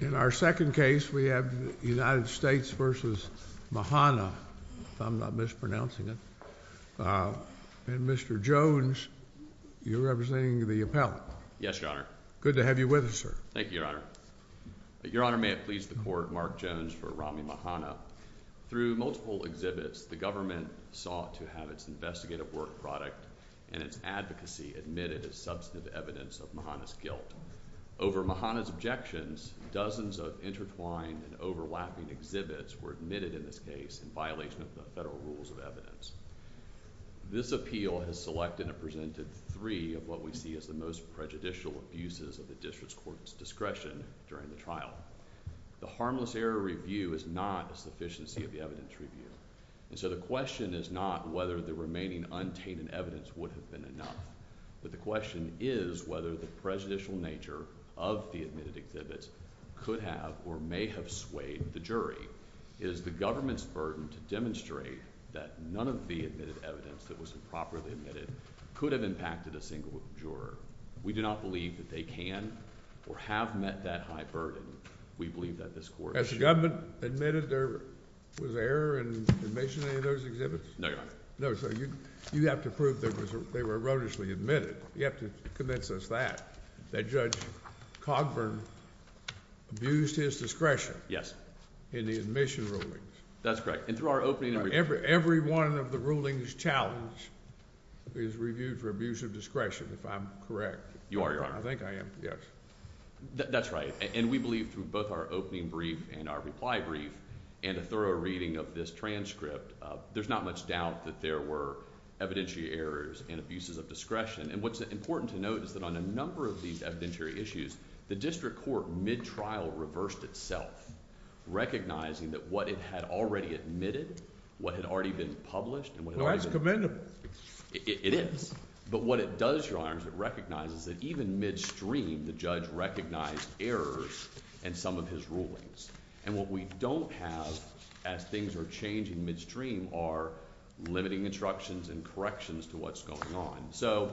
In our second case we have United States v. Mhana, if I'm not mispronouncing it, and Mr. Jones, you're representing the appellate. Yes, Your Honor. Good to have you with us, sir. Thank you, Your Honor. Your Honor, may it please the Court, Mark Jones for Rami Mhana. Through multiple exhibits, the government sought to have its investigative work product and its advocacy admitted as substantive evidence of Mhana's guilt. Over Mhana's objections, dozens of intertwined and overlapping exhibits were admitted in this case in violation of the federal rules of evidence. This appeal has selected and presented three of what we see as the most prejudicial abuses of the district's court's discretion during the trial. The harmless error review is not a sufficiency of the evidence review, and so the question is not whether the remaining untainted evidence would have been enough, but the question is whether the prejudicial nature of the admitted exhibits could have or may have swayed the jury. It is the government's burden to demonstrate that none of the admitted evidence that was improperly admitted could have impacted a single juror. We do not believe that they can or have met that high burden. We believe that this court— Has the government admitted there was error in admission of any of those exhibits? No, Your Honor. No, so you have to prove that they were erroneously admitted. You have to convince us that, that Judge Cogburn abused his discretion. Yes. In the admission rulings. That's correct, and through our opening— Every one of the rulings challenged is reviewed for abuse of discretion, if I'm correct. You are, Your Honor. I think I am, yes. That's right, and we believe through both our opening brief and our reply brief and a thorough reading of this transcript, there's not much doubt that there were evidentiary errors and abuses of discretion, and what's important to note is that on a number of these evidentiary issues, the district court, mid-trial, reversed itself, recognizing that what it had already admitted, what had already been published— Well, that's commendable. It is, but what it does, Your Honor, is it recognizes that even midstream, the judge recognized errors in some of his rulings, and what we don't have, as things are changing midstream, are limiting instructions and corrections to what's going on. So,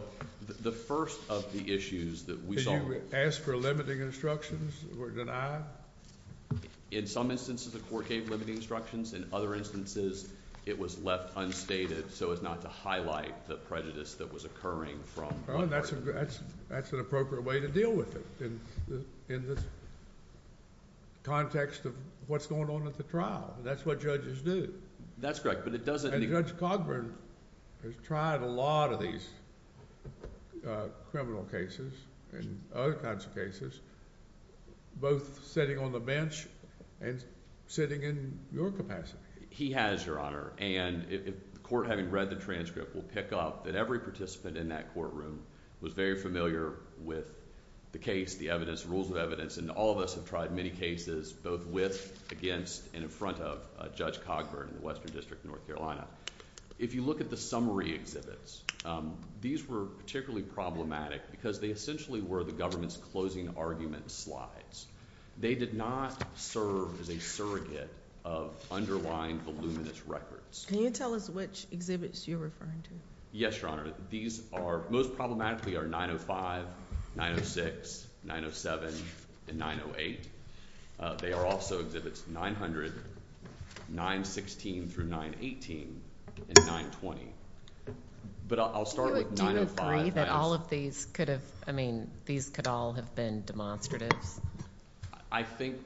the first of the issues that we saw— Did you ask for limiting instructions that were denied? In some instances, the court gave limiting instructions. In other instances, it was left unstated so as not to highlight the prejudice that was occurring from— That's an appropriate way to deal with it in the context of what's going on at the trial. That's what judges do. That's correct, but it doesn't— And Judge Cogburn has tried a lot of these criminal cases and other kinds of cases, both sitting on the bench and sitting in your capacity. He has, Your Honor, and the court, having read the transcript, will pick up that every participant in that courtroom was very familiar with the case, the evidence, the rules of evidence, and all of us have tried many cases, both with, against, and in front of Judge Cogburn in the Western District of North Carolina. If you look at the summary exhibits, these were particularly problematic because they essentially were the government's closing argument slides. They did not serve as a surrogate of underlying voluminous records. Can you tell us which exhibits you're referring to? Yes, Your Honor. These are, most problematically, are 905, 906, 907, and 908. They are also exhibits 900, 916 through 918, and 920. But I'll start with 905. Do you agree that all of these could have, I mean, these could all have been demonstratives? I think—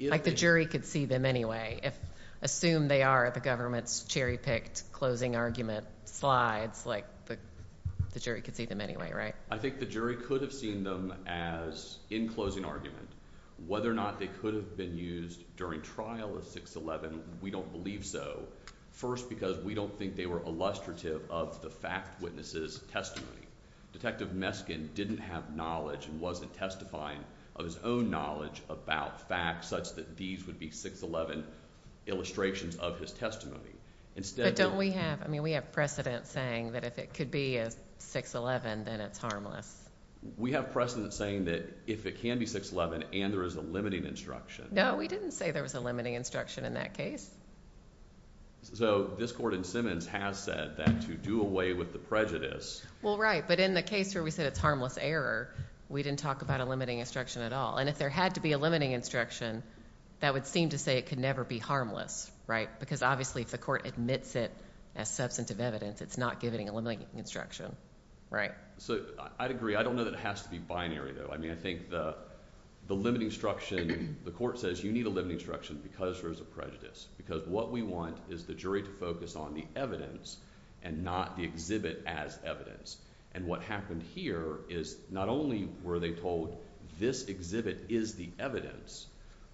Like the jury could see them anyway. Assume they are the government's cherry-picked closing argument slides, like the jury could see them anyway, right? I think the jury could have seen them as, in closing argument, whether or not they could have been used during trial of 611, we don't believe so. First, because we don't think they were illustrative of the fact witness's testimony. Detective Meskin didn't have knowledge and wasn't testifying of his own knowledge about facts such that these would be 611 illustrations of his testimony. But don't we have, I mean, we have precedent saying that if it could be a 611, then it's harmless. We have precedent saying that if it can be 611 and there is a limiting instruction. No, we didn't say there was a limiting instruction in that case. So, this court in Simmons has said that to do away with the prejudice— Well, right, but in the case where we said it's harmless error, we didn't talk about a limiting instruction at all. And if there had to be a limiting instruction, that would seem to say it could never be harmless, right? Because obviously if the court admits it as substantive evidence, it's not giving a limiting instruction, right? So, I'd agree. I don't know that it has to be binary, though. I mean, I think the limiting instruction—the court says you need a limiting instruction because there is a prejudice. Because what we want is the jury to focus on the evidence and not the exhibit as evidence. And what happened here is not only were they told this exhibit is the evidence,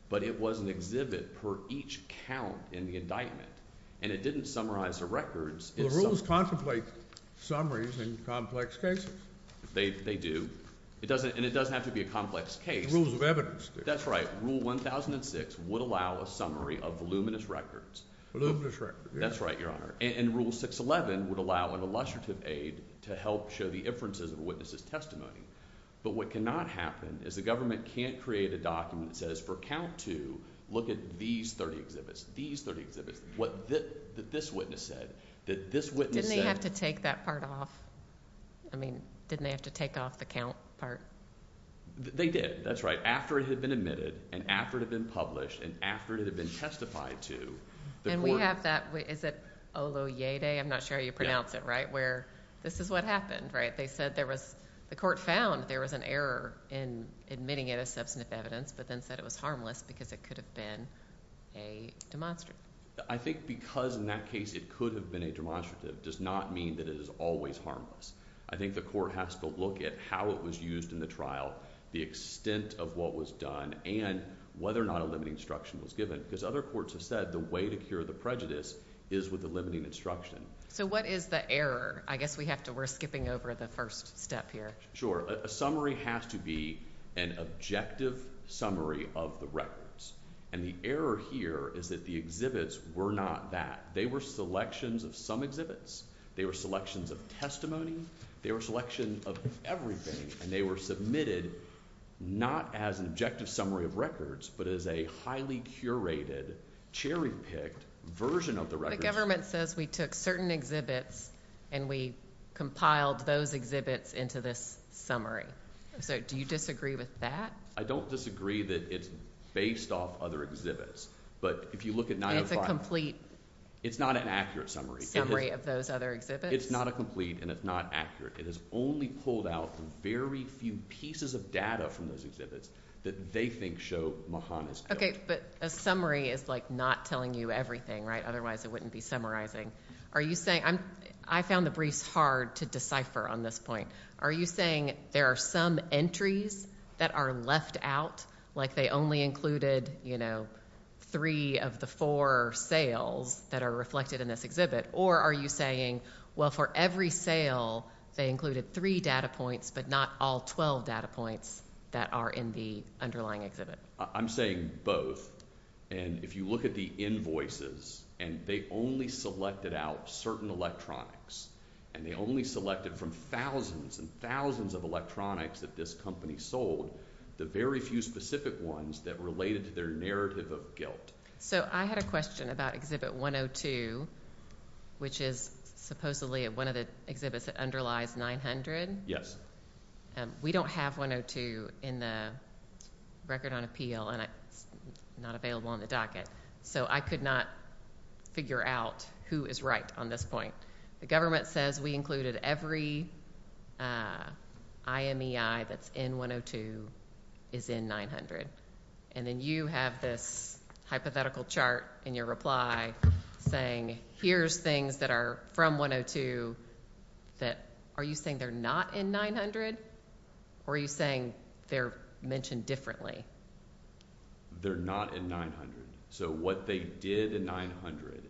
but it was an exhibit per each count in the indictment. And it didn't summarize the records— Well, the rules contemplate summaries in complex cases. They do. And it doesn't have to be a complex case. Rules of evidence. That's right. Rule 1006 would allow a summary of voluminous records. Voluminous records, yes. That's right, Your Honor. And Rule 611 would allow an illustrative aid to help show the inferences of a witness's testimony. But what cannot happen is the government can't create a document that says for count 2, look at these 30 exhibits, these 30 exhibits, what this witness said, that this witness said— Didn't they have to take that part off? I mean, didn't they have to take off the count part? They did. That's right. After it had been admitted, and after it had been published, and after it had been testified to, the court— And we have that—is it Oloyede? I'm not sure how you pronounce it, right? Yeah. Where this is what happened, right? They said there was—the court found there was an error in admitting it as substantive evidence, but then said it was harmless because it could have been a demonstrative. I think because in that case it could have been a demonstrative does not mean that it is always harmless. I think the court has to look at how it was used in the trial, the extent of what was done, and whether or not a limiting instruction was given. Because other courts have said the way to cure the prejudice is with a limiting instruction. So what is the error? I guess we have to—we're skipping over the first step here. Sure. A summary has to be an objective summary of the records. And the error here is that the exhibits were not that. They were selections of some exhibits. They were selections of testimony. They were selections of everything, and they were submitted not as an objective summary of records, but as a highly curated, cherry-picked version of the records. So the government says we took certain exhibits and we compiled those exhibits into this summary. So do you disagree with that? I don't disagree that it's based off other exhibits. But if you look at 905— It's not an accurate summary. —summary of those other exhibits? It's not a complete, and it's not accurate. It has only pulled out the very few pieces of data from those exhibits that they think show Mahan is guilty. But a summary is like not telling you everything, right? Otherwise, it wouldn't be summarizing. Are you saying—I found the briefs hard to decipher on this point. Are you saying there are some entries that are left out, like they only included, you know, three of the four sales that are reflected in this exhibit? Or are you saying, well, for every sale, they included three data points, but not all 12 data points that are in the underlying exhibit? I'm saying both. And if you look at the invoices, and they only selected out certain electronics, and they only selected from thousands and thousands of electronics that this company sold, the very few specific ones that related to their narrative of guilt. So I had a question about Exhibit 102, which is supposedly one of the exhibits that underlies 900. Yes. We don't have 102 in the Record on Appeal, and it's not available on the docket. So I could not figure out who is right on this point. The government says we included every IMEI that's in 102 is in 900. And then you have this hypothetical chart in your reply saying, here's things that are from 102 that, are you saying they're not in 900? Or are you saying they're mentioned differently? They're not in 900. So what they did in 900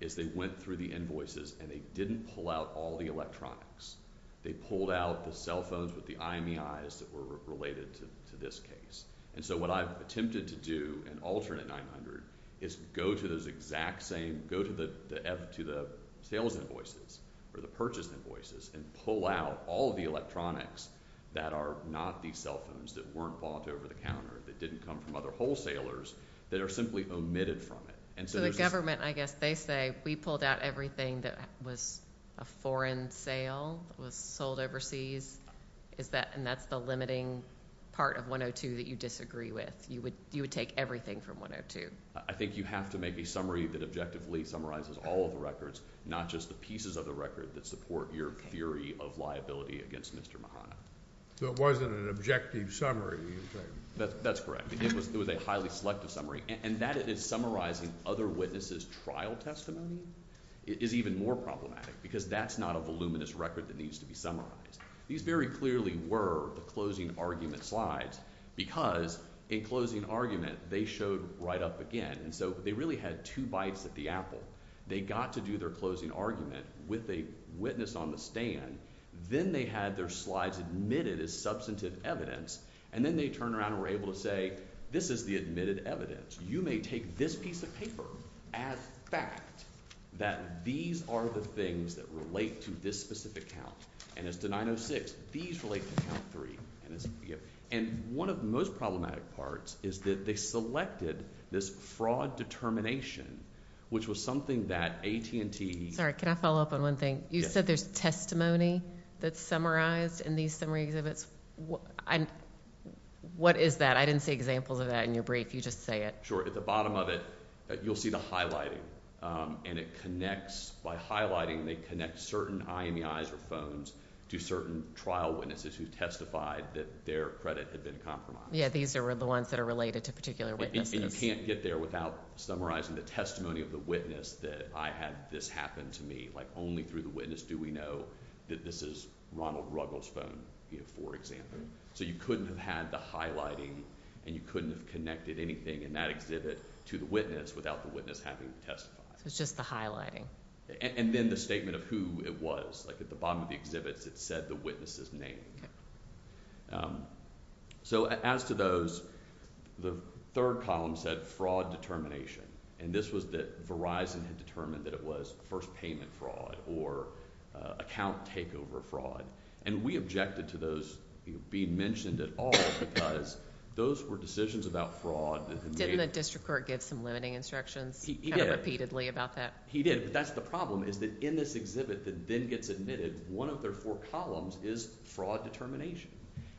is they went through the invoices, and they didn't pull out all the electronics. They pulled out the cell phones with the IMEIs that were related to this case. And so what I've attempted to do in alternate 900 is go to those exact same, go to the sales invoices, or the purchase invoices, and pull out all of the electronics that are not these cell phones, that weren't bought over the counter, that didn't come from other wholesalers, that are simply omitted from it. So the government, I guess they say, we pulled out everything that was a foreign sale, was sold overseas, and that's the limiting part of 102 that you disagree with. You would take everything from 102. I think you have to make a summary that objectively summarizes all of the records, not just the pieces of the record that support your theory of liability against Mr. Mahana. So it wasn't an objective summary. That's correct. It was a highly selective summary. And that is summarizing other witnesses' trial testimony is even more problematic, because that's not a voluminous record that needs to be summarized. These very clearly were the closing argument slides, because in closing argument, they showed right up again. So they really had two bites at the apple. They got to do their closing argument with a witness on the stand, then they had their slides admitted as substantive evidence, and then they turned around and were able to say, this is the admitted evidence. You may take this piece of paper as fact, that these are the things that relate to this specific count, and as to 906, these relate to count three. And one of the most problematic parts is that they selected this fraud determination, which was something that AT&T... Sorry, can I follow up on one thing? You said there's testimony that's summarized in these summary exhibits. What is that? I didn't see examples of that in your brief. You just say it. Sure. At the bottom of it, you'll see the highlighting. And it connects, by highlighting, they connect certain IMEIs or phones to certain trial witnesses who testified that their credit had been compromised. Yeah, these are the ones that are related to particular witnesses. And you can't get there without summarizing the testimony of the witness that I had this happen to me. Only through the witness do we know that this is Ronald Ruggles' phone, for example. So you couldn't have had the highlighting, and you couldn't have connected anything in that exhibit to the witness without the witness having testified. So it's just the highlighting. And then the statement of who it was. Like at the bottom of the exhibits, it said the witness's name. So as to those, the third column said fraud determination. And this was that Verizon had determined that it was first payment fraud or account takeover fraud. And we objected to those being mentioned at all because those were decisions about fraud Didn't the district court give some limiting instructions? He did. Kind of repeatedly about that? He did. But that's the problem, is that in this exhibit that then gets admitted, one of their four columns is fraud determination.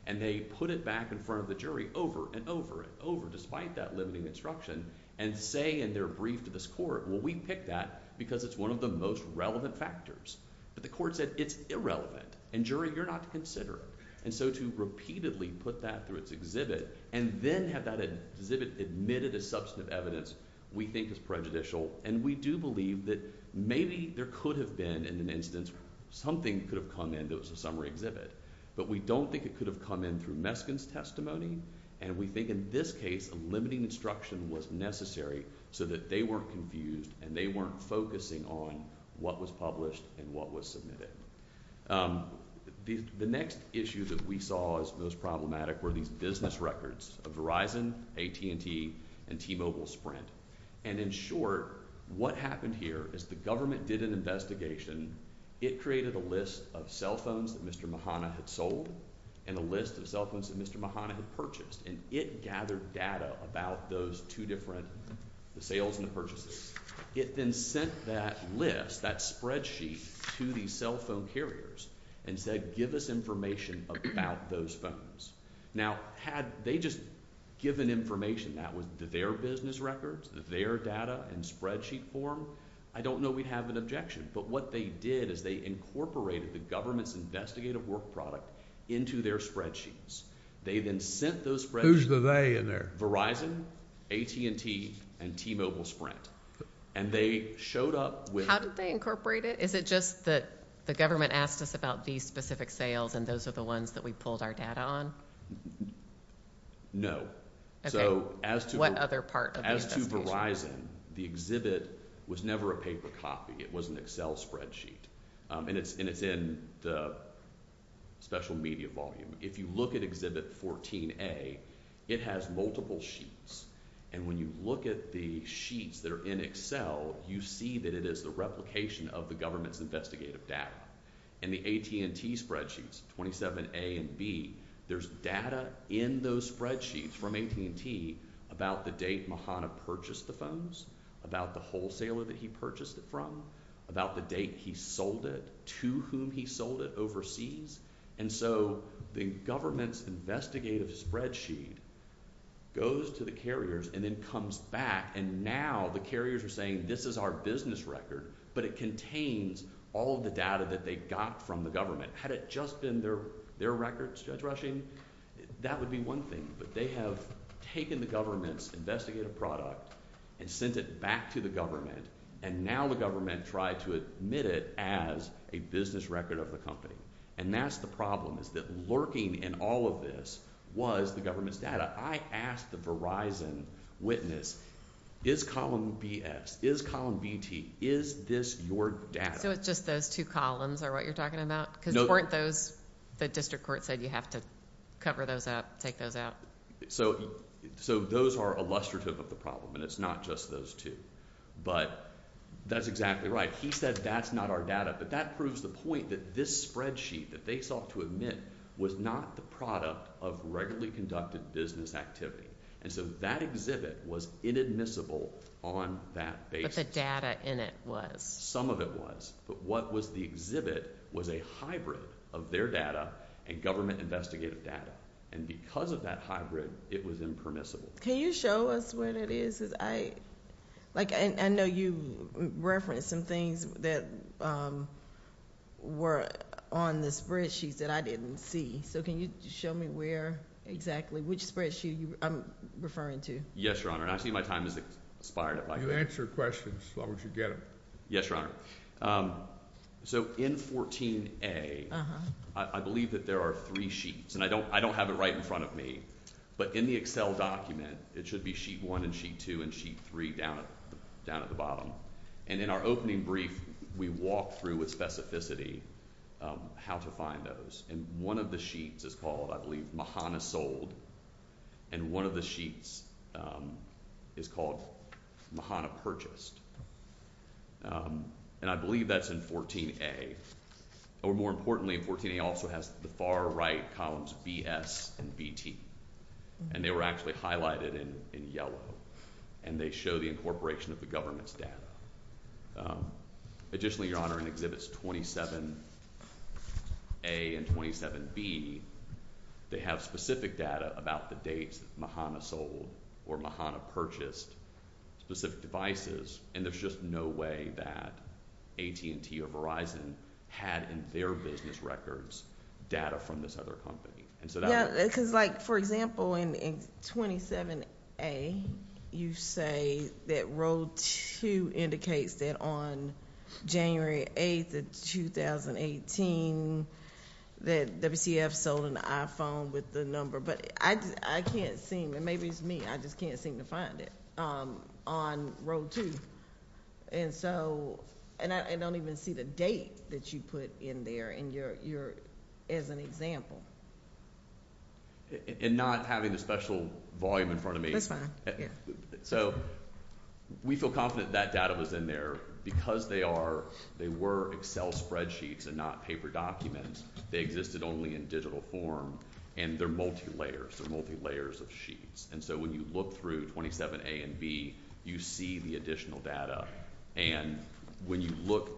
And they put it back in front of the jury over and over and over, despite that limiting instruction, and say in their brief to this court, well we picked that because it's one of the most relevant factors. But the court said it's irrelevant. And jury, you're not to consider it. And so to repeatedly put that through its exhibit, and then have that exhibit admitted as substantive evidence, we think is prejudicial. And we do believe that maybe there could have been, in an instance, something could have come in that was a summary exhibit. But we don't think it could have come in through Meskin's testimony. And we think in this case, a limiting instruction was necessary so that they weren't confused and they weren't focusing on what was published and what was submitted. The next issue that we saw as most problematic were these business records of Verizon, AT&T, and T-Mobile Sprint. And in short, what happened here is the government did an investigation. It created a list of cell phones that Mr. Mahana had sold, and a list of cell phones that Mr. Mahana had purchased. And it gathered data about those two different, the sales and the purchases. It then sent that list, that spreadsheet, to the cell phone carriers and said, give us information about those phones. Now, had they just given information that was their business records, their data and spreadsheet form, I don't know we'd have an objection. But what they did is they incorporated the government's investigative work product into their spreadsheets. They then sent those spreadsheets. Who's the they in there? Verizon, AT&T, and T-Mobile Sprint. And they showed up with... How did they incorporate it? Is it just that the government asked us about these specific sales and those are the ones that we pulled our data on? No. What other part of the investigation? As to Verizon, the exhibit was never a paper copy. It was an Excel spreadsheet. And it's in the special media volume. If you look at exhibit 14A, it has multiple sheets. And when you look at the sheets that are in Excel, you see that it is the replication of the government's investigative data. And the AT&T spreadsheets, 27A and B, there's data in those spreadsheets from AT&T about the date Mahana purchased the phones, about the wholesaler that he purchased it from, about the date he sold it, to whom he sold it overseas. And so the government's investigative spreadsheet goes to the carriers and then comes back. And now the carriers are saying, this is our business record. But it contains all of the data that they got from the government. Had it just been their records, Judge Rushing, that would be one thing. But they have taken the government's investigative product and sent it back to the government. And now the government tried to admit it as a business record of the company. And that's the problem, is that lurking in all of this was the government's data. I asked the Verizon witness, is column BS, is column BT, is this your data? So it's just those two columns are what you're talking about? Because weren't those, the district court said you have to cover those up, take those out? So those are illustrative of the problem, and it's not just those two. But that's exactly right. He said that's not our data. But that proves the point that this spreadsheet that they sought to admit was not the product of regularly conducted business activity. And so that exhibit was inadmissible on that basis. But the data in it was. Some of it was. But what was the exhibit was a hybrid of their data and government investigative data. And because of that hybrid, it was impermissible. Can you show us what it is? I know you referenced some things that were on the spreadsheet that I didn't see. So can you show me where exactly, which spreadsheet I'm referring to? Yes, Your Honor. I see my time has expired. You answer questions as long as you get them. Yes, Your Honor. So in 14A, I believe that there are three sheets. And I don't have it right in front of me. But in the Excel document, it should be sheet one and sheet two and sheet three down at the bottom. And in our opening brief, we walk through with specificity how to find those. And one of the sheets is called, I believe, Mahana Sold. And one of the sheets is called Mahana Purchased. And I believe that's in 14A. Or more importantly, 14A also has the far right columns BS and BT. And they were actually highlighted in yellow. And they show the incorporation of the government's data. Additionally, Your Honor, in Exhibits 27A and 27B, they have specific data about the dates Mahana sold or Mahana purchased specific devices. And there's just no way that AT&T or Verizon had in their business records data from this other company. Yeah, because like, for example, in 27A, you say that row two indicates that on January 8th of 2018, that WCF sold an iPhone with the number. But I can't seem, and maybe it's me, I just can't seem to find it on row two. And so, and I don't even see the date that you put in there in your, as an example. And not having the special volume in front of me. That's fine, yeah. So, we feel confident that data was in there because they are, they were Excel spreadsheets and not paper documents. They existed only in digital form. And they're multi-layers, they're multi-layers of sheets. And so when you look through 27A and B, you see the additional data. And when you look,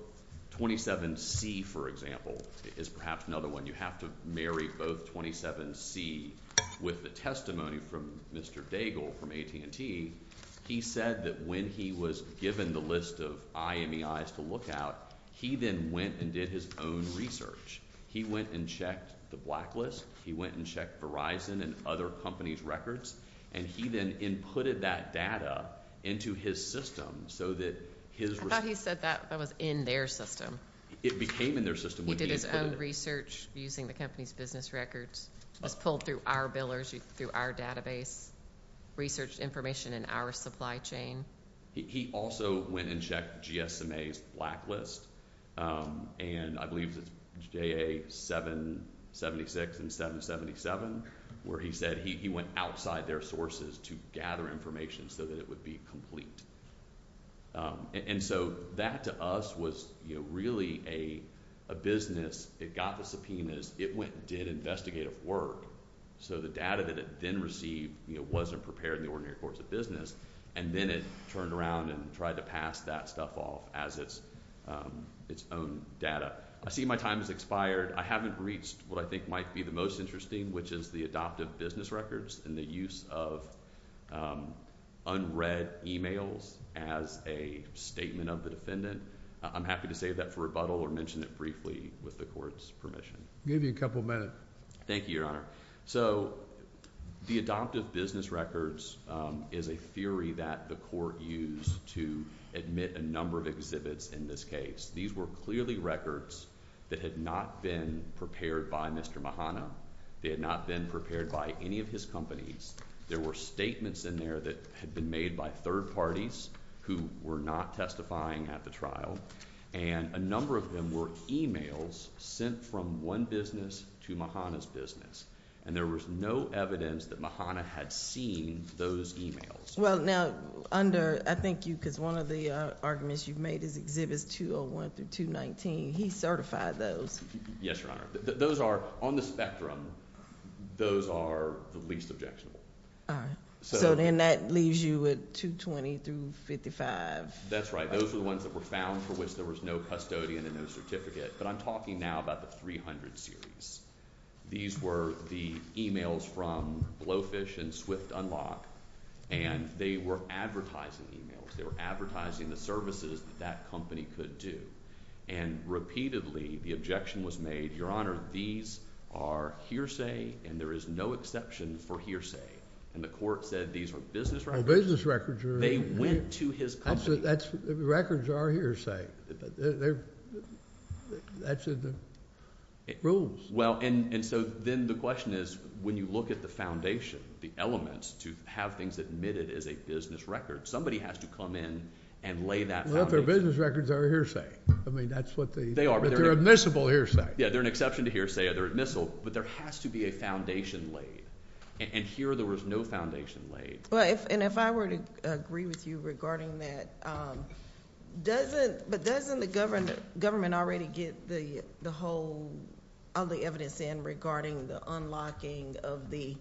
27C, for example, is perhaps another one. You have to marry both 27C with the testimony from Mr. Daigle from AT&T. He said that when he was given the list of IMEIs to look at, he then went and did his own research. He went and checked the blacklist. He went and checked Verizon and other companies' records. And he then inputted that data into his system so that his... I thought he said that was in their system. It became in their system when he... He did his own research using the company's business records. It was pulled through our billers, through our database. Researched information in our supply chain. He also went and checked GSMA's blacklist. And I believe it's JA 776 and 777, where he said he went outside their sources to gather information so that it would be complete. And so that, to us, was really a business. It got the subpoenas. It went and did investigative work. So the data that it then received wasn't prepared in the ordinary course of business. And then it turned around and tried to pass that stuff off as its own data. I see my time has expired. I haven't reached what I think might be the most interesting, which is the adoptive business records and the use of unread emails as a statement of the defendant. I'm happy to save that for rebuttal or mention it briefly with the Court's permission. I'll give you a couple minutes. Thank you, Your Honor. So the adoptive business records is a theory that the Court used to admit a number of exhibits in this case. These were clearly records that had not been prepared by Mr. Mahana. They had not been prepared by any of his companies. There were statements in there that had been made by third parties who were not testifying at the trial. And a number of them were emails sent from one business to Mahana's business. And there was no evidence that Mahana had seen those emails. Well, now, under... I think you... because one of the arguments you've made is Exhibits 201 through 219. He certified those. Yes, Your Honor. Those are... on the spectrum, those are the least objectionable. All right. So then that leaves you with 220 through 55. That's right. Those are the ones that were found for which there was no custodian and no certificate. But I'm talking now about the 300 series. These were the emails from Blowfish and Swift Unlock, and they were advertising emails. They were advertising the services that that company could do. And repeatedly, the objection was made, Your Honor, these are hearsay, and there is no exception for hearsay. And the court said these are business records. They're business records. They went to his company. That's... records are hearsay. That's in the rules. Well, and so then the question is, when you look at the foundation, the elements to have things admitted as a business record, somebody has to come in and lay that foundation. Well, if they're business records, they're a hearsay. I mean, that's what the... They are. But they're admissible hearsay. Yeah, they're an exception to hearsay. They're admissible. But there has to be a foundation laid. And here, there was no foundation laid. Well, and if I were to agree with you regarding that, doesn't the government already get the whole... all the evidence in regarding the unlocking of the...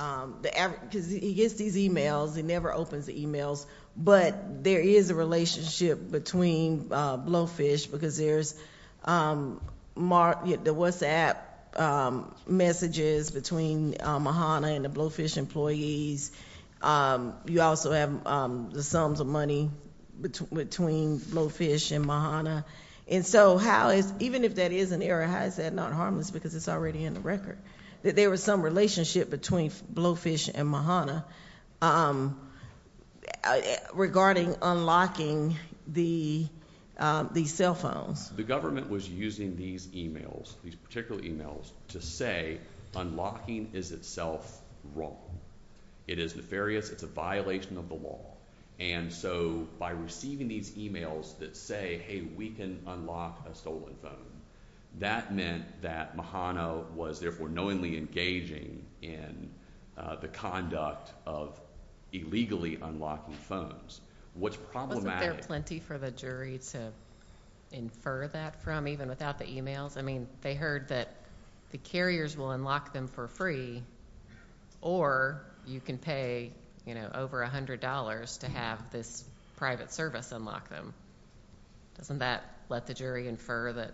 because he gets these e-mails. He never opens the e-mails. But there is a relationship between Blowfish because there's the WhatsApp messages between Mahana and the Blowfish employees. You also have the sums of money between Blowfish and Mahana. And so how is... even if that is an error, how is that not harmless because it's already in the record that there was some relationship between Blowfish and Mahana regarding unlocking the cell phones? The government was using these e-mails, these particular e-mails, to say unlocking is itself wrong. It is nefarious. It's a violation of the law. And so by receiving these e-mails that say, hey, we can unlock a stolen phone, that meant that Mahana was therefore knowingly engaging in the conduct of illegally unlocking phones. What's problematic... Wasn't there plenty for the jury to infer that from, even without the e-mails? I mean, they heard that the carriers will unlock them for free, or you can pay over $100 to have this private service unlock them. Doesn't that let the jury infer that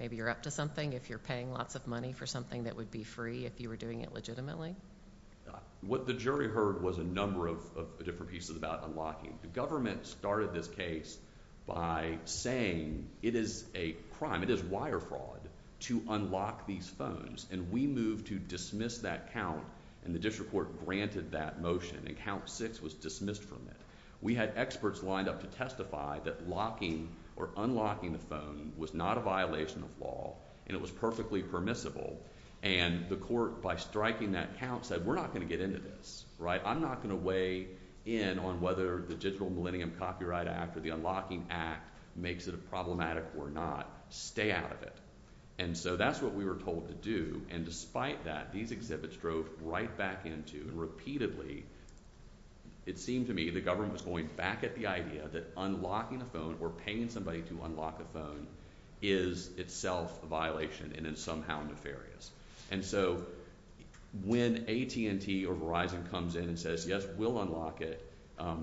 maybe you're up to something if you're paying lots of money for something that would be free if you were doing it legitimately? What the jury heard was a number of different pieces about unlocking. The government started this case by saying it is a crime, it is wire fraud, to unlock these phones. And we moved to dismiss that count, and the district court granted that motion, and count six was dismissed from it. We had experts lined up to testify that locking or unlocking the phone was not a violation of law, and it was perfectly permissible. And the court, by striking that count, said we're not going to get into this. I'm not going to weigh in on whether the Digital Millennium Copyright Act or the Unlocking Act makes it problematic or not. Stay out of it. And so that's what we were told to do, and despite that, these exhibits drove right back into and repeatedly, it seemed to me, the government was going back at the idea that unlocking a phone or paying somebody to unlock a phone is itself a violation and is somehow nefarious. And so when AT&T or Verizon comes in and says, yes, we'll unlock it,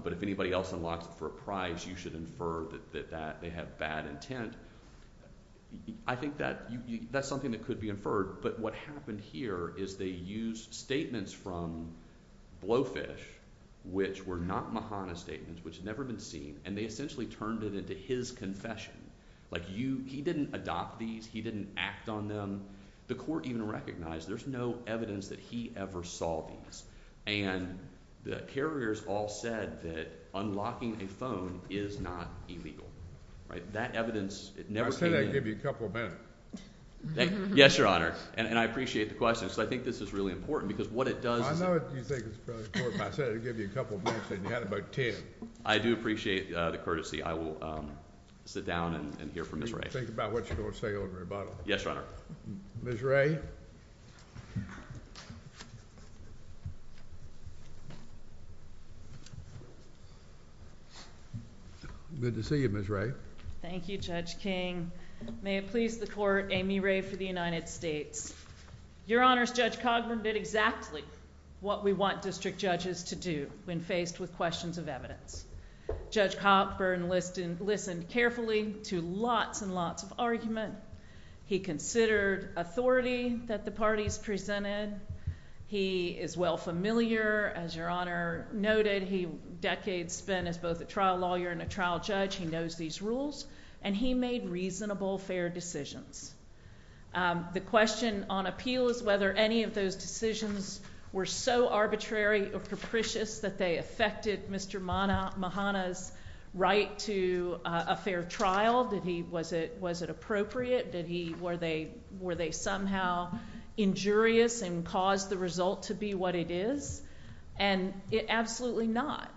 but if anybody else unlocks it for a price, you should infer that they have bad intent, I think that's something that could be inferred. But what happened here is they used statements from Blowfish, which were not Mahana statements, which had never been seen, and they essentially turned it into his confession. Like, he didn't adopt these, he didn't act on them. The court even recognized there's no evidence that he ever saw these. And the carriers all said that unlocking a phone is not illegal, right? That evidence, it never came in. Well, can I give you a couple of minutes? Yes, Your Honor, and I appreciate the question. So I think this is really important, because what it does is... I know what you think is really important, but I said I'd give you a couple of minutes, and you had about ten. I do appreciate the courtesy. I will sit down and hear from Ms. Ray. Think about what you're going to say over the rebuttal. Yes, Your Honor. Ms. Ray? Good to see you, Ms. Ray. Thank you, Judge King. May it please the Court, Amy Ray for the United States. Your Honors, Judge Cogburn did exactly what we want district judges to do when faced with questions of evidence. Judge Cogburn listened carefully to lots and lots of argument. He considered authority that the parties presented. He is well familiar, as Your Honor noted. He decades spent as both a trial lawyer and a trial judge. He knows these rules, and he made reasonable, fair decisions. The question on appeal is whether any of those decisions were so arbitrary or capricious that they affected Mr. Mahana's right to a fair trial. Was it appropriate? Were they somehow injurious and caused the result to be what it is? Absolutely not.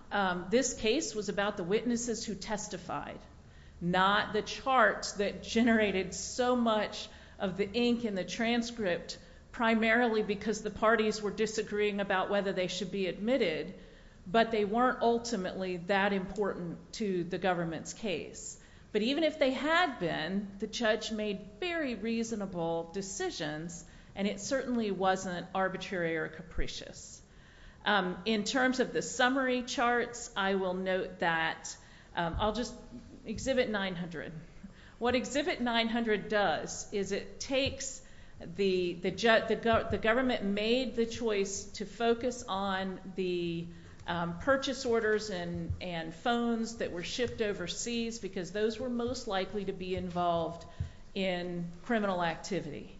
This case was about the witnesses who testified, not the charts that generated so much of the ink in the transcript primarily because the parties were disagreeing about whether they should be admitted, but they weren't ultimately that important to the government's case. But even if they had been, the judge made very reasonable decisions, and it certainly wasn't arbitrary or capricious. In terms of the summary charts, I will note that I'll just exhibit 900. What exhibit 900 does is it takes the government made the choice to focus on the purchase orders and phones that were shipped overseas because those were most likely to be involved in criminal activity.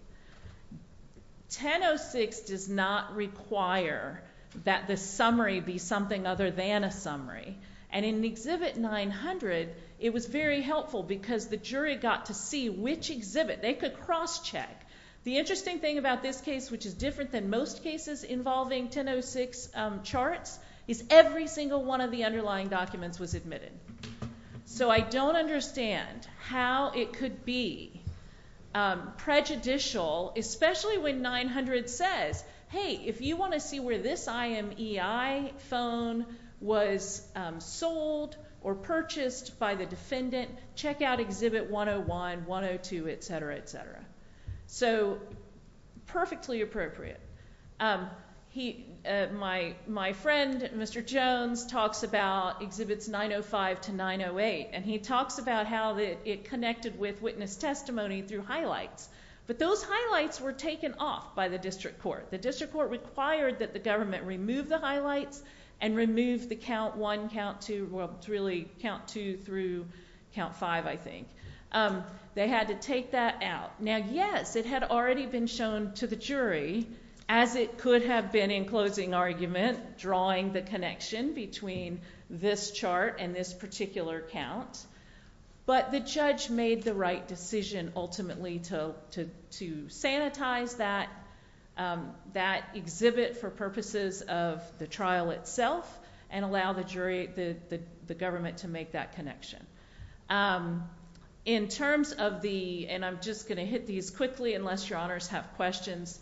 1006 does not require that the summary be something other than a summary, and in exhibit 900, it was very helpful because the jury got to see which exhibit. They could cross-check. The interesting thing about this case, which is different than most cases involving 1006 charts, is every single one of the underlying documents was admitted. So I don't understand how it could be prejudicial, especially when 900 says, hey, if you want to see where this IMEI phone was sold or purchased by the defendant, check out exhibit 101, 102, etc., etc. So perfectly appropriate. My friend, Mr. Jones, talks about exhibits 905 to 908, and he talks about how it connected with witness testimony through highlights, but those highlights were taken off by the district court. The district court required that the government remove the highlights and remove the count one, count two, really count two through count five, I think. They had to take that out. Now, yes, it had already been shown to the jury, as it could have been in closing argument, drawing the connection between this chart and this particular count, but the judge made the right decision, ultimately, to sanitize that exhibit for purposes of the trial itself and allow the government to make that connection. In terms of the, and I'm just going to hit these quickly unless your honors have questions,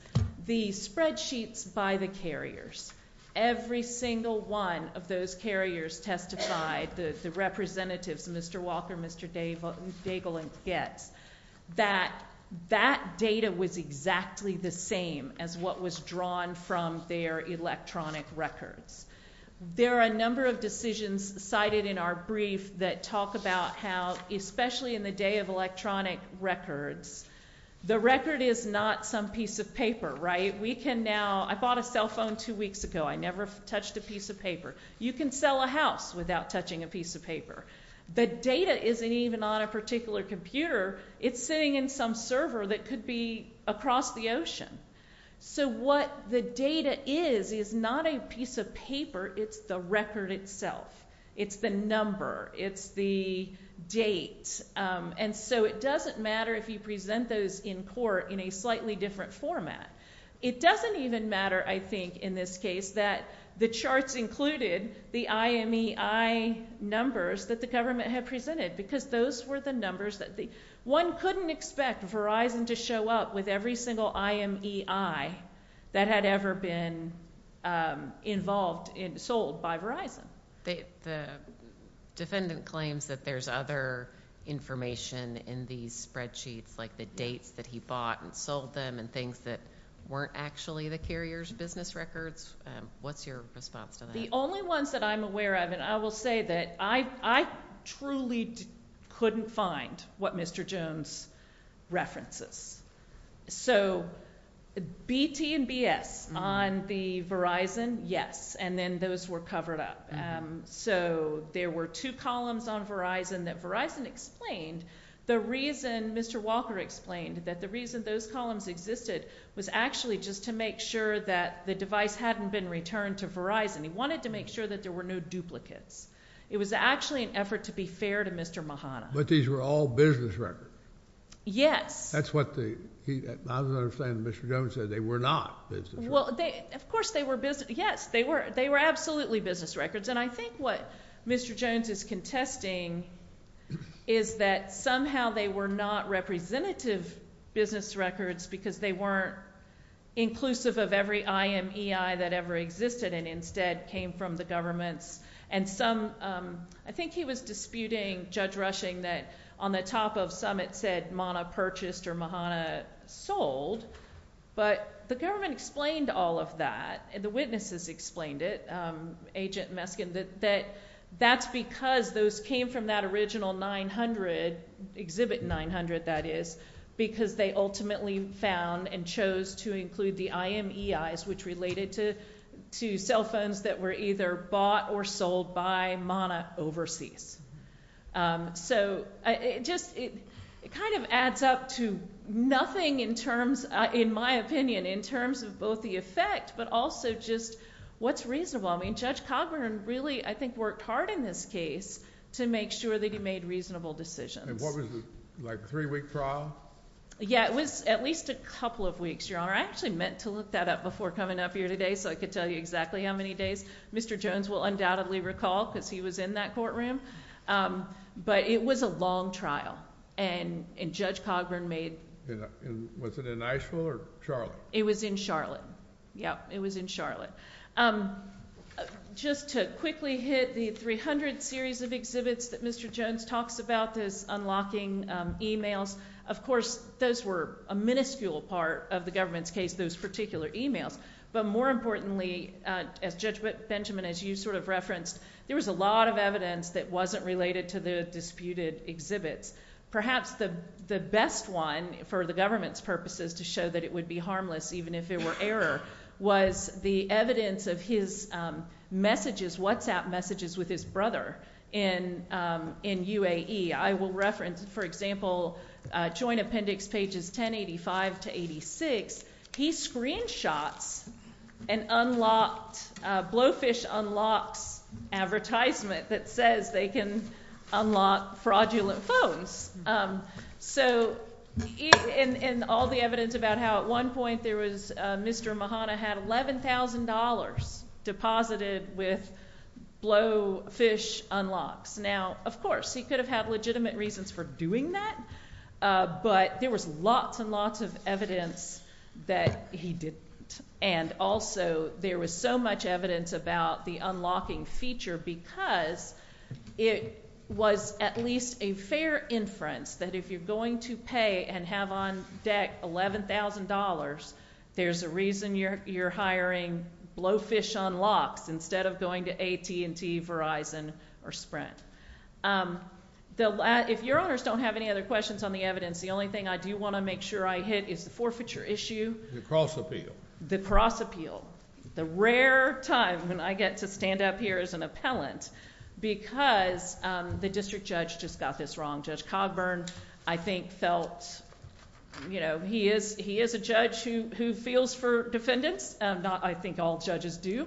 the spreadsheets by the carriers, every single one of those carriers testified, the representatives, Mr. Walker, Mr. Daigle, and Goetz, that that data was exactly the same as what was drawn from their electronic records. There are a number of decisions cited in our brief that talk about how, especially in the day of electronic records, the record is not some piece of paper, right? We can now, I bought a cell phone two weeks ago. I never touched a piece of paper. You can sell a house without touching a piece of paper. The data isn't even on a particular computer. It's sitting in some server that could be across the ocean. So what the data is is not a piece of paper. It's the record itself. It's the number. It's the date. And so it doesn't matter if you present those in court in a slightly different format. It doesn't even matter, I think, in this case, that the charts included the IMEI numbers that the government had presented because those were the numbers that the, one couldn't expect Verizon to show up with every single IMEI that had ever been involved, sold by Verizon. The defendant claims that there's other information in these spreadsheets like the dates that he bought and sold them and things that weren't actually the carrier's business records. What's your response to that? The only ones that I'm aware of, and I will say that I truly couldn't find what Mr. Jones references. So BT and BS on the Verizon, yes, and then those were covered up. So there were two columns on Verizon that Verizon explained. The reason Mr. Walker explained that the reason those columns existed was actually just to make sure that the device hadn't been returned to Verizon. He wanted to make sure that there were no duplicates. It was actually an effort to be fair to Mr. Mahana. But these were all business records. Yes. That's what the, I don't understand what Mr. Jones said. They were not business Well, of course they were business, yes, they were absolutely business records. And I think what Mr. Jones is contesting is that somehow they were not representative business records because they weren't inclusive of every IMEI that ever existed and instead came from the governments. And some, I think he was disputing Judge Rushing that on the top of some it said Mana purchased or Mahana sold. But the government explained all of that and the witnesses explained it, Agent Meskin, that that's because those came from that original 900, Exhibit 900 that is, because they ultimately found and chose to include the IMEIs which related to cell phones that were either bought or sold by Mana overseas. So it just, it kind of adds up to nothing in terms, in my opinion, in terms of both the effect but also just what's reasonable. I mean Judge Cogburn really I think worked hard in this case to make sure that he made reasonable decisions. And what was it, like a three week trial? Yeah, it was at least a couple of weeks, Your Honor. I actually meant to look that up before coming up here today so I could tell you exactly how many days. Mr. Jones will undoubtedly recall because he was in that courtroom. But it was a long trial and Judge Cogburn made... Was it in Iceville or Charlotte? It was in Charlotte. Yeah, it was in Charlotte. Just to quickly hit the 300 series of exhibits that Mr. Jones talks about, those unlocking emails, of course those were a minuscule part of the government's case, those particular emails. But more importantly, as Judge Benjamin, as you sort of referenced, there was a lot of evidence that wasn't related to the disputed exhibits. Perhaps the best one for the government's purposes to show that it would be harmless even if it were error was the evidence of his messages, WhatsApp messages with his brother in UAE. I will reference, for example, joint appendix pages 1085 to 86. He screenshots an unlocked Blowfish Unlocks advertisement that says they can unlock fraudulent phones. So in all the evidence about how at one point there was Mr. Mahana had $11,000 deposited with Blowfish Unlocks. Now, of course, he could have had legitimate reasons for doing that, but there was lots and lots of evidence that he didn't. And also there was so much evidence about the unlocking feature because it was at least a fair inference that if you're going to pay and have on deck $11,000, there's a reason you're hiring Blowfish Unlocks instead of going to AT&T, Verizon, or Sprint. If Your Honors don't have any other questions on the evidence, the only thing I do want to make sure I hit is the forfeiture issue. The cross appeal. The cross appeal. The rare time when I get to stand up here as an appellant because the district judge just got this wrong. Judge Cogburn, I think, felt... He is a judge who feels for defendants. I think all judges do.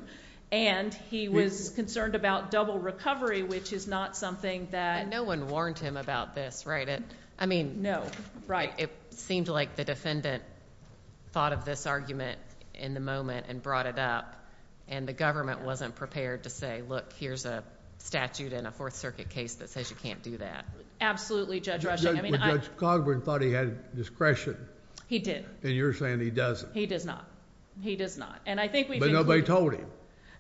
And he was concerned about double recovery, which is not something that... No one warned him about this, right? No. Right. It seemed like the defendant thought of this argument in the moment and brought it up, and the government wasn't prepared to say, look, here's a statute in a Fourth Circuit case that says you can't do that. Absolutely, Judge Rushing. But Judge Cogburn thought he had discretion. He did. And you're saying he doesn't. He does not. He does not. And I think we... But nobody told him.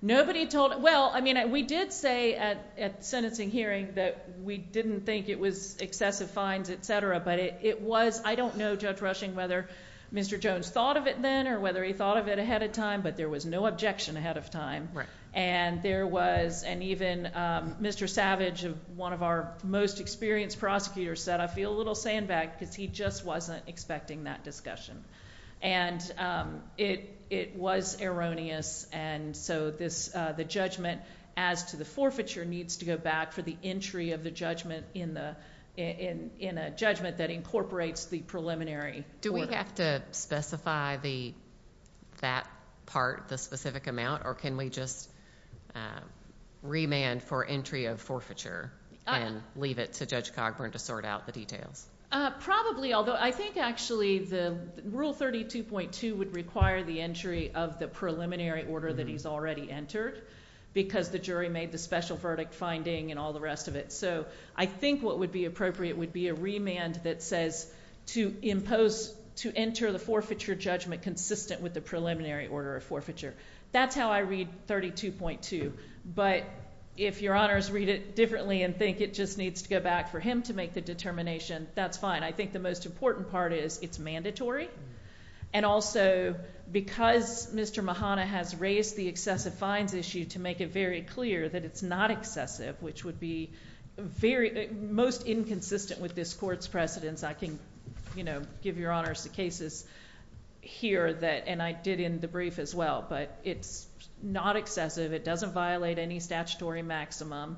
Nobody told... Well, I mean, we did say at sentencing hearing that we didn't think it was excessive fines, et cetera, but it was... I don't know, Judge Rushing, whether Mr. Jones thought of it then or whether he thought of it ahead of time, but there was no objection ahead of time. Right. And there was... And even Mr. Savage, one of our most experienced prosecutors, said, I feel a little sandbagged because he just wasn't expecting that discussion. And it was erroneous, and so the judgment as to the forfeiture needs to go back for the entry of the judgment in a judgment that incorporates the preliminary... Do we have to specify that part, the specific amount, or can we just remand for entry of forfeiture and leave it to Judge Cogburn to sort out the details? Probably, although I think actually the Rule 32.2 would require the entry of the preliminary order that he's already entered because the jury made the special verdict finding and all the rest of it. So I think what would be appropriate would be a remand that says to impose to enter the forfeiture judgment consistent with the preliminary order of forfeiture. That's how I read 32.2. But if Your Honors read it differently and think it just needs to go back for him to make the determination, that's fine. I think the most important part is it's mandatory. And also, because Mr. Mahana has raised the excessive fines issue to make it very clear that it's not excessive, which would be most inconsistent with this Court's precedence, I can give Your Honors the cases here that... But it's not excessive. It doesn't violate any statutory maximum.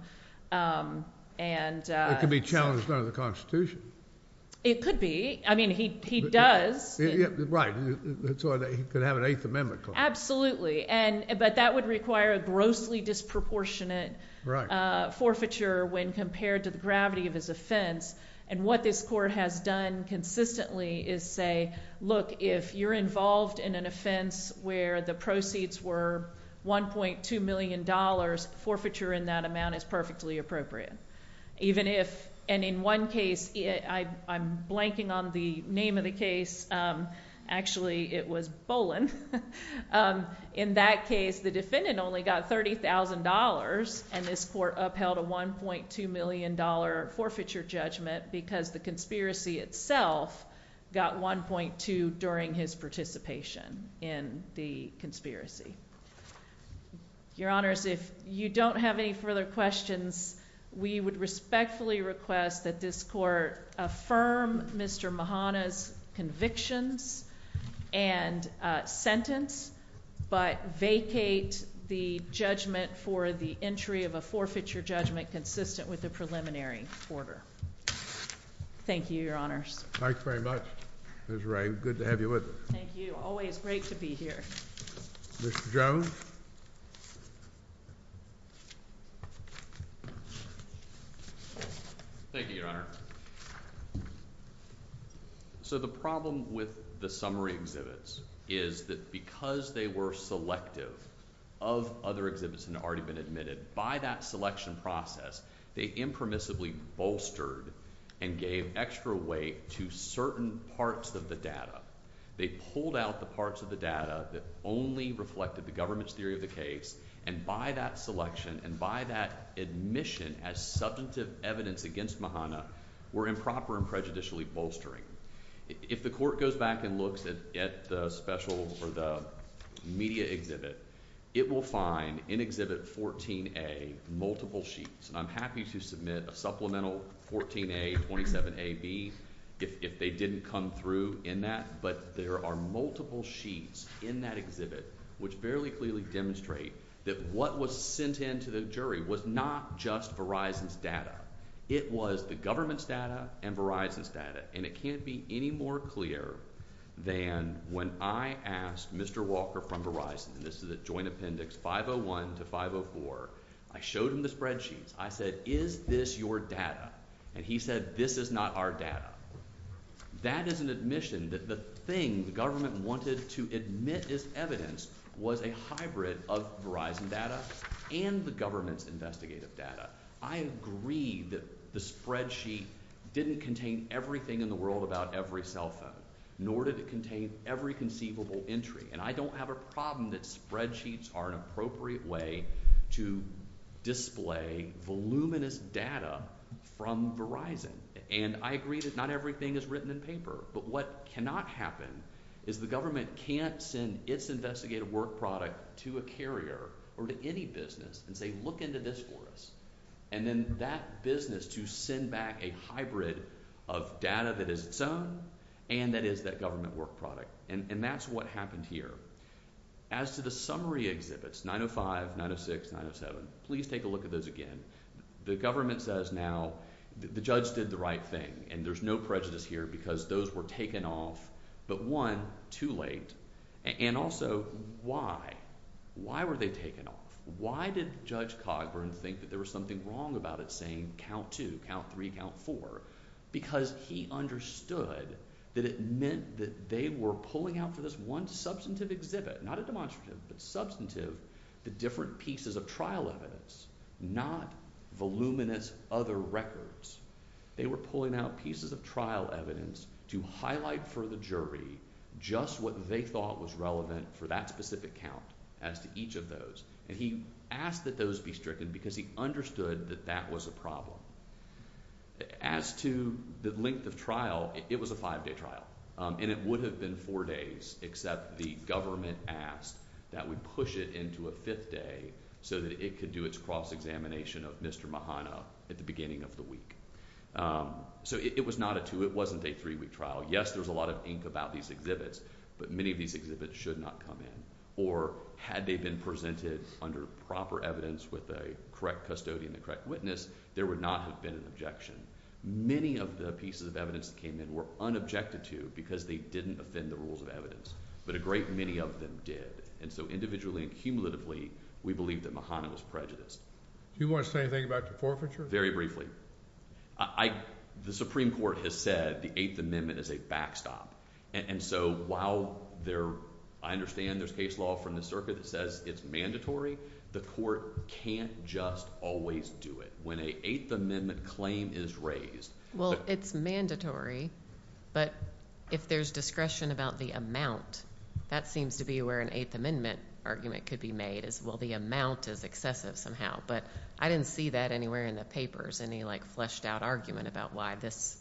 And... It could be challenged under the Constitution. It could be. I mean, he does. Right. That's why he could have an Eighth Amendment claim. Absolutely. But that would require a grossly disproportionate forfeiture when compared to the gravity of his offense. And what this Court has done consistently is say, look, if you're involved in an offense where the proceeds were $1.2 million, forfeiture in that amount is perfectly appropriate. Even if... And in one case... I'm blanking on the name of the case. Actually, it was Boland. In that case, the defendant only got $30,000. And this Court upheld a $1.2 million forfeiture judgment because the conspiracy. Your Honors, if you don't have any further questions, we would respectfully request that this Court affirm Mr. Mahana's convictions and sentence, but vacate the judgment for the entry of a forfeiture judgment consistent with the preliminary order. Thank you, Your Honors. Thank you very much, Ms. Ray. Good to have you with us. Thank you. Always great to be here. Mr. Jones? Thank you, Your Honor. So the problem with the summary exhibits is that because they were selective of other exhibits that had already been admitted, by that selection process, they impermissibly bolstered and gave extra weight to certain parts of the data that only reflected the government's theory of the case, and by that selection and by that admission as subjunctive evidence against Mahana, were improper and prejudicially bolstering. If the Court goes back and looks at the special or the media exhibit, it will find in Exhibit 14A multiple sheets. And I'm happy to submit a supplemental 14A, 27AB if they didn't come through in that, but there are multiple sheets in that exhibit which fairly clearly demonstrate that what was sent in to the jury was not just Verizon's data. It was the government's data and Verizon's data. And it can't be any more clear than when I asked Mr. Walker from Verizon, and this is a joint appendix 501 to 504, I showed him the spreadsheets. I said, is this your data? And he said, this is not our data. That is an admission that the thing the government wanted to admit as evidence was a hybrid of Verizon data and the government's investigative data. I agree that the spreadsheet didn't contain everything in the world about every cell phone, nor did it contain every conceivable entry. And I don't have a problem that spreadsheets are an appropriate way to display voluminous data from Verizon. And I agree that not everything is written in paper. But what cannot happen is the government can't send its investigative work product to a carrier or to any business and say, look into this for us. And then that business to send back a hybrid of data that is its own and that is that government work product. And that's what happened here. As to the summary exhibits, 905, 906, 907, please take a look at those again. The government says now the judge did the right thing. And there's no prejudice here because those were taken off. But one, too late. And also, why? Why were they taken off? Why did Judge Cogburn think that there was something wrong about it saying count two, count three, count four? Because he understood that it meant that they were pulling out for this one substantive exhibit, not a demonstrative, but substantive, the different pieces of trial evidence, not voluminous other records. They were pulling out pieces of trial evidence to highlight for the jury just what they thought was relevant for that specific count as to each of those. And he asked that those be stricken because he understood that that was a As to the length of trial, it was a five-day trial. And it would have been four days, except the government asked that we do it on the fifth day so that it could do its cross-examination of Mr. Mahana at the beginning of the week. So it was not a two-week, it wasn't a three-week trial. Yes, there was a lot of ink about these exhibits, but many of these exhibits should not come in. Or had they been presented under proper evidence with the correct custodian, the correct witness, there would not have been an objection. Many of the pieces of evidence that came in were unobjected to because they didn't offend the rules of evidence. But a great many of them did. And so individually and cumulatively, we believe that Mahana was prejudiced. Do you want to say anything about the forfeiture? Very briefly. The Supreme Court has said the Eighth Amendment is a backstop. And so while I understand there's case law from the circuit that says it's mandatory, the court can't just always do it. When an Eighth Amendment claim is raised... Well, it's mandatory, but if there's discretion about the amount, that seems to be where an Eighth Amendment argument could be made, is, well, the amount is excessive somehow. But I didn't see that anywhere in the papers, any fleshed-out argument about why this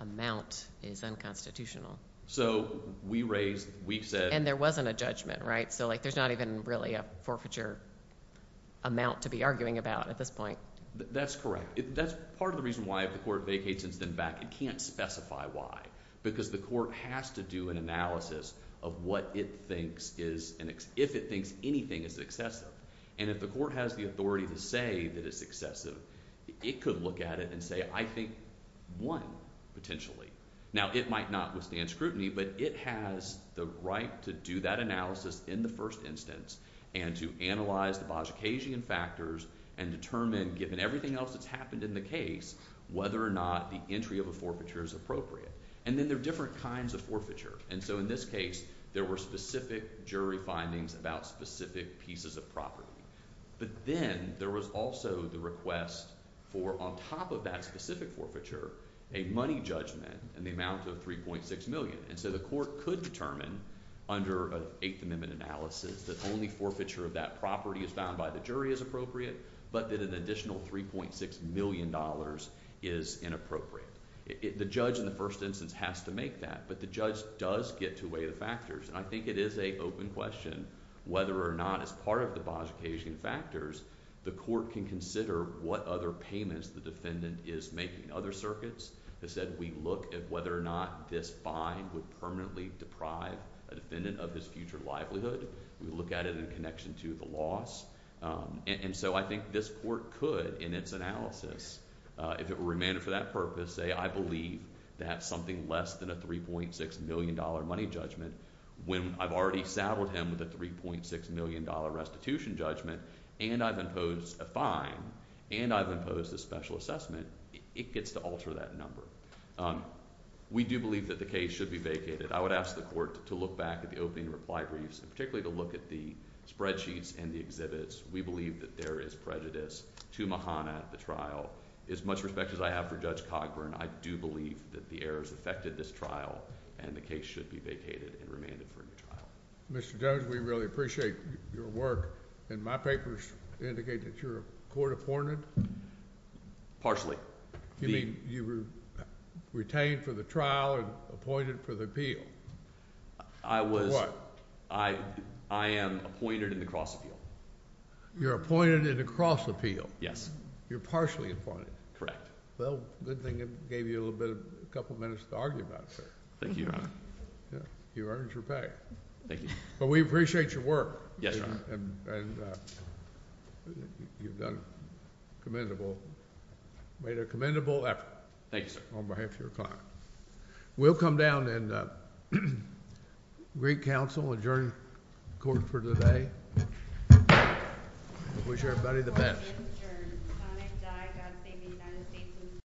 amount is unconstitutional. So we raised, we said... And there wasn't a judgment, right? So there's not even really a forfeiture amount to be arguing about at this point. That's correct. That's part of the reason why if the court vacates and is then back, it can't specify why. Because the court has to do an analysis of what it thinks is... if it thinks anything is excessive. And if the court has the authority to say that it's excessive, it could look at it and say, I think, one, potentially. Now, it might not withstand scrutiny, but it has the right to do that analysis in the first instance and to analyze the Bajor-Keyesian factors and determine, given everything else that's happened in the case, whether or not the entry of a forfeiture is appropriate. And then there are different kinds of forfeiture. And so in this case, there were specific jury findings about specific pieces of property. But then there was also the request for, on top of that specific forfeiture, a money judgment in the amount of $3.6 million. And so the court could determine, under an Eighth Amendment analysis, that only forfeiture of that property as found by the jury is appropriate, but that an additional $3.6 million is inappropriate. The judge, in the first instance, has to make that. But the judge does get to weigh the factors. And I think it is an open question whether or not, as part of the Bajor-Keyesian factors, the court can consider what other payments the defendant is making. Other circuits have said we look at whether or not this fine would permanently deprive a defendant of his future livelihood. We look at it in connection to the loss. And so I think this court could, in its analysis, if it were remanded for that purpose, say, I believe that something less than a $3.6 million money judgment, when I've already saddled him with a $3.6 million restitution judgment, and I've imposed a fine, and I've imposed a special assessment, it gets to alter that number. We do believe that the case should be vacated. I would ask the court to look back at the opening reply briefs, and particularly to look at the spreadsheets and the exhibits. We believe that there is prejudice to Mahana, the trial. As much respect as I have for Judge Cogburn, I do believe that the errors affected this trial, and the case should be vacated and remanded for a new trial. Mr. Jones, we really appreciate your work. And my papers indicate that you're a court-appointed? Partially. You mean you were retained for the trial and appointed for the appeal? I was. For what? I am appointed in the cross-appeal. You're appointed in the cross-appeal? Yes. You're partially appointed? Correct. Well, good thing it gave you a couple minutes to argue about, sir. Thank you, Your Honor. You earned your pay. Thank you. But we appreciate your work. Yes, Your Honor. And you've made a commendable effort. Thank you, sir. On behalf of your client. We'll come down and greet counsel, adjourn court for the day. I wish everybody the best.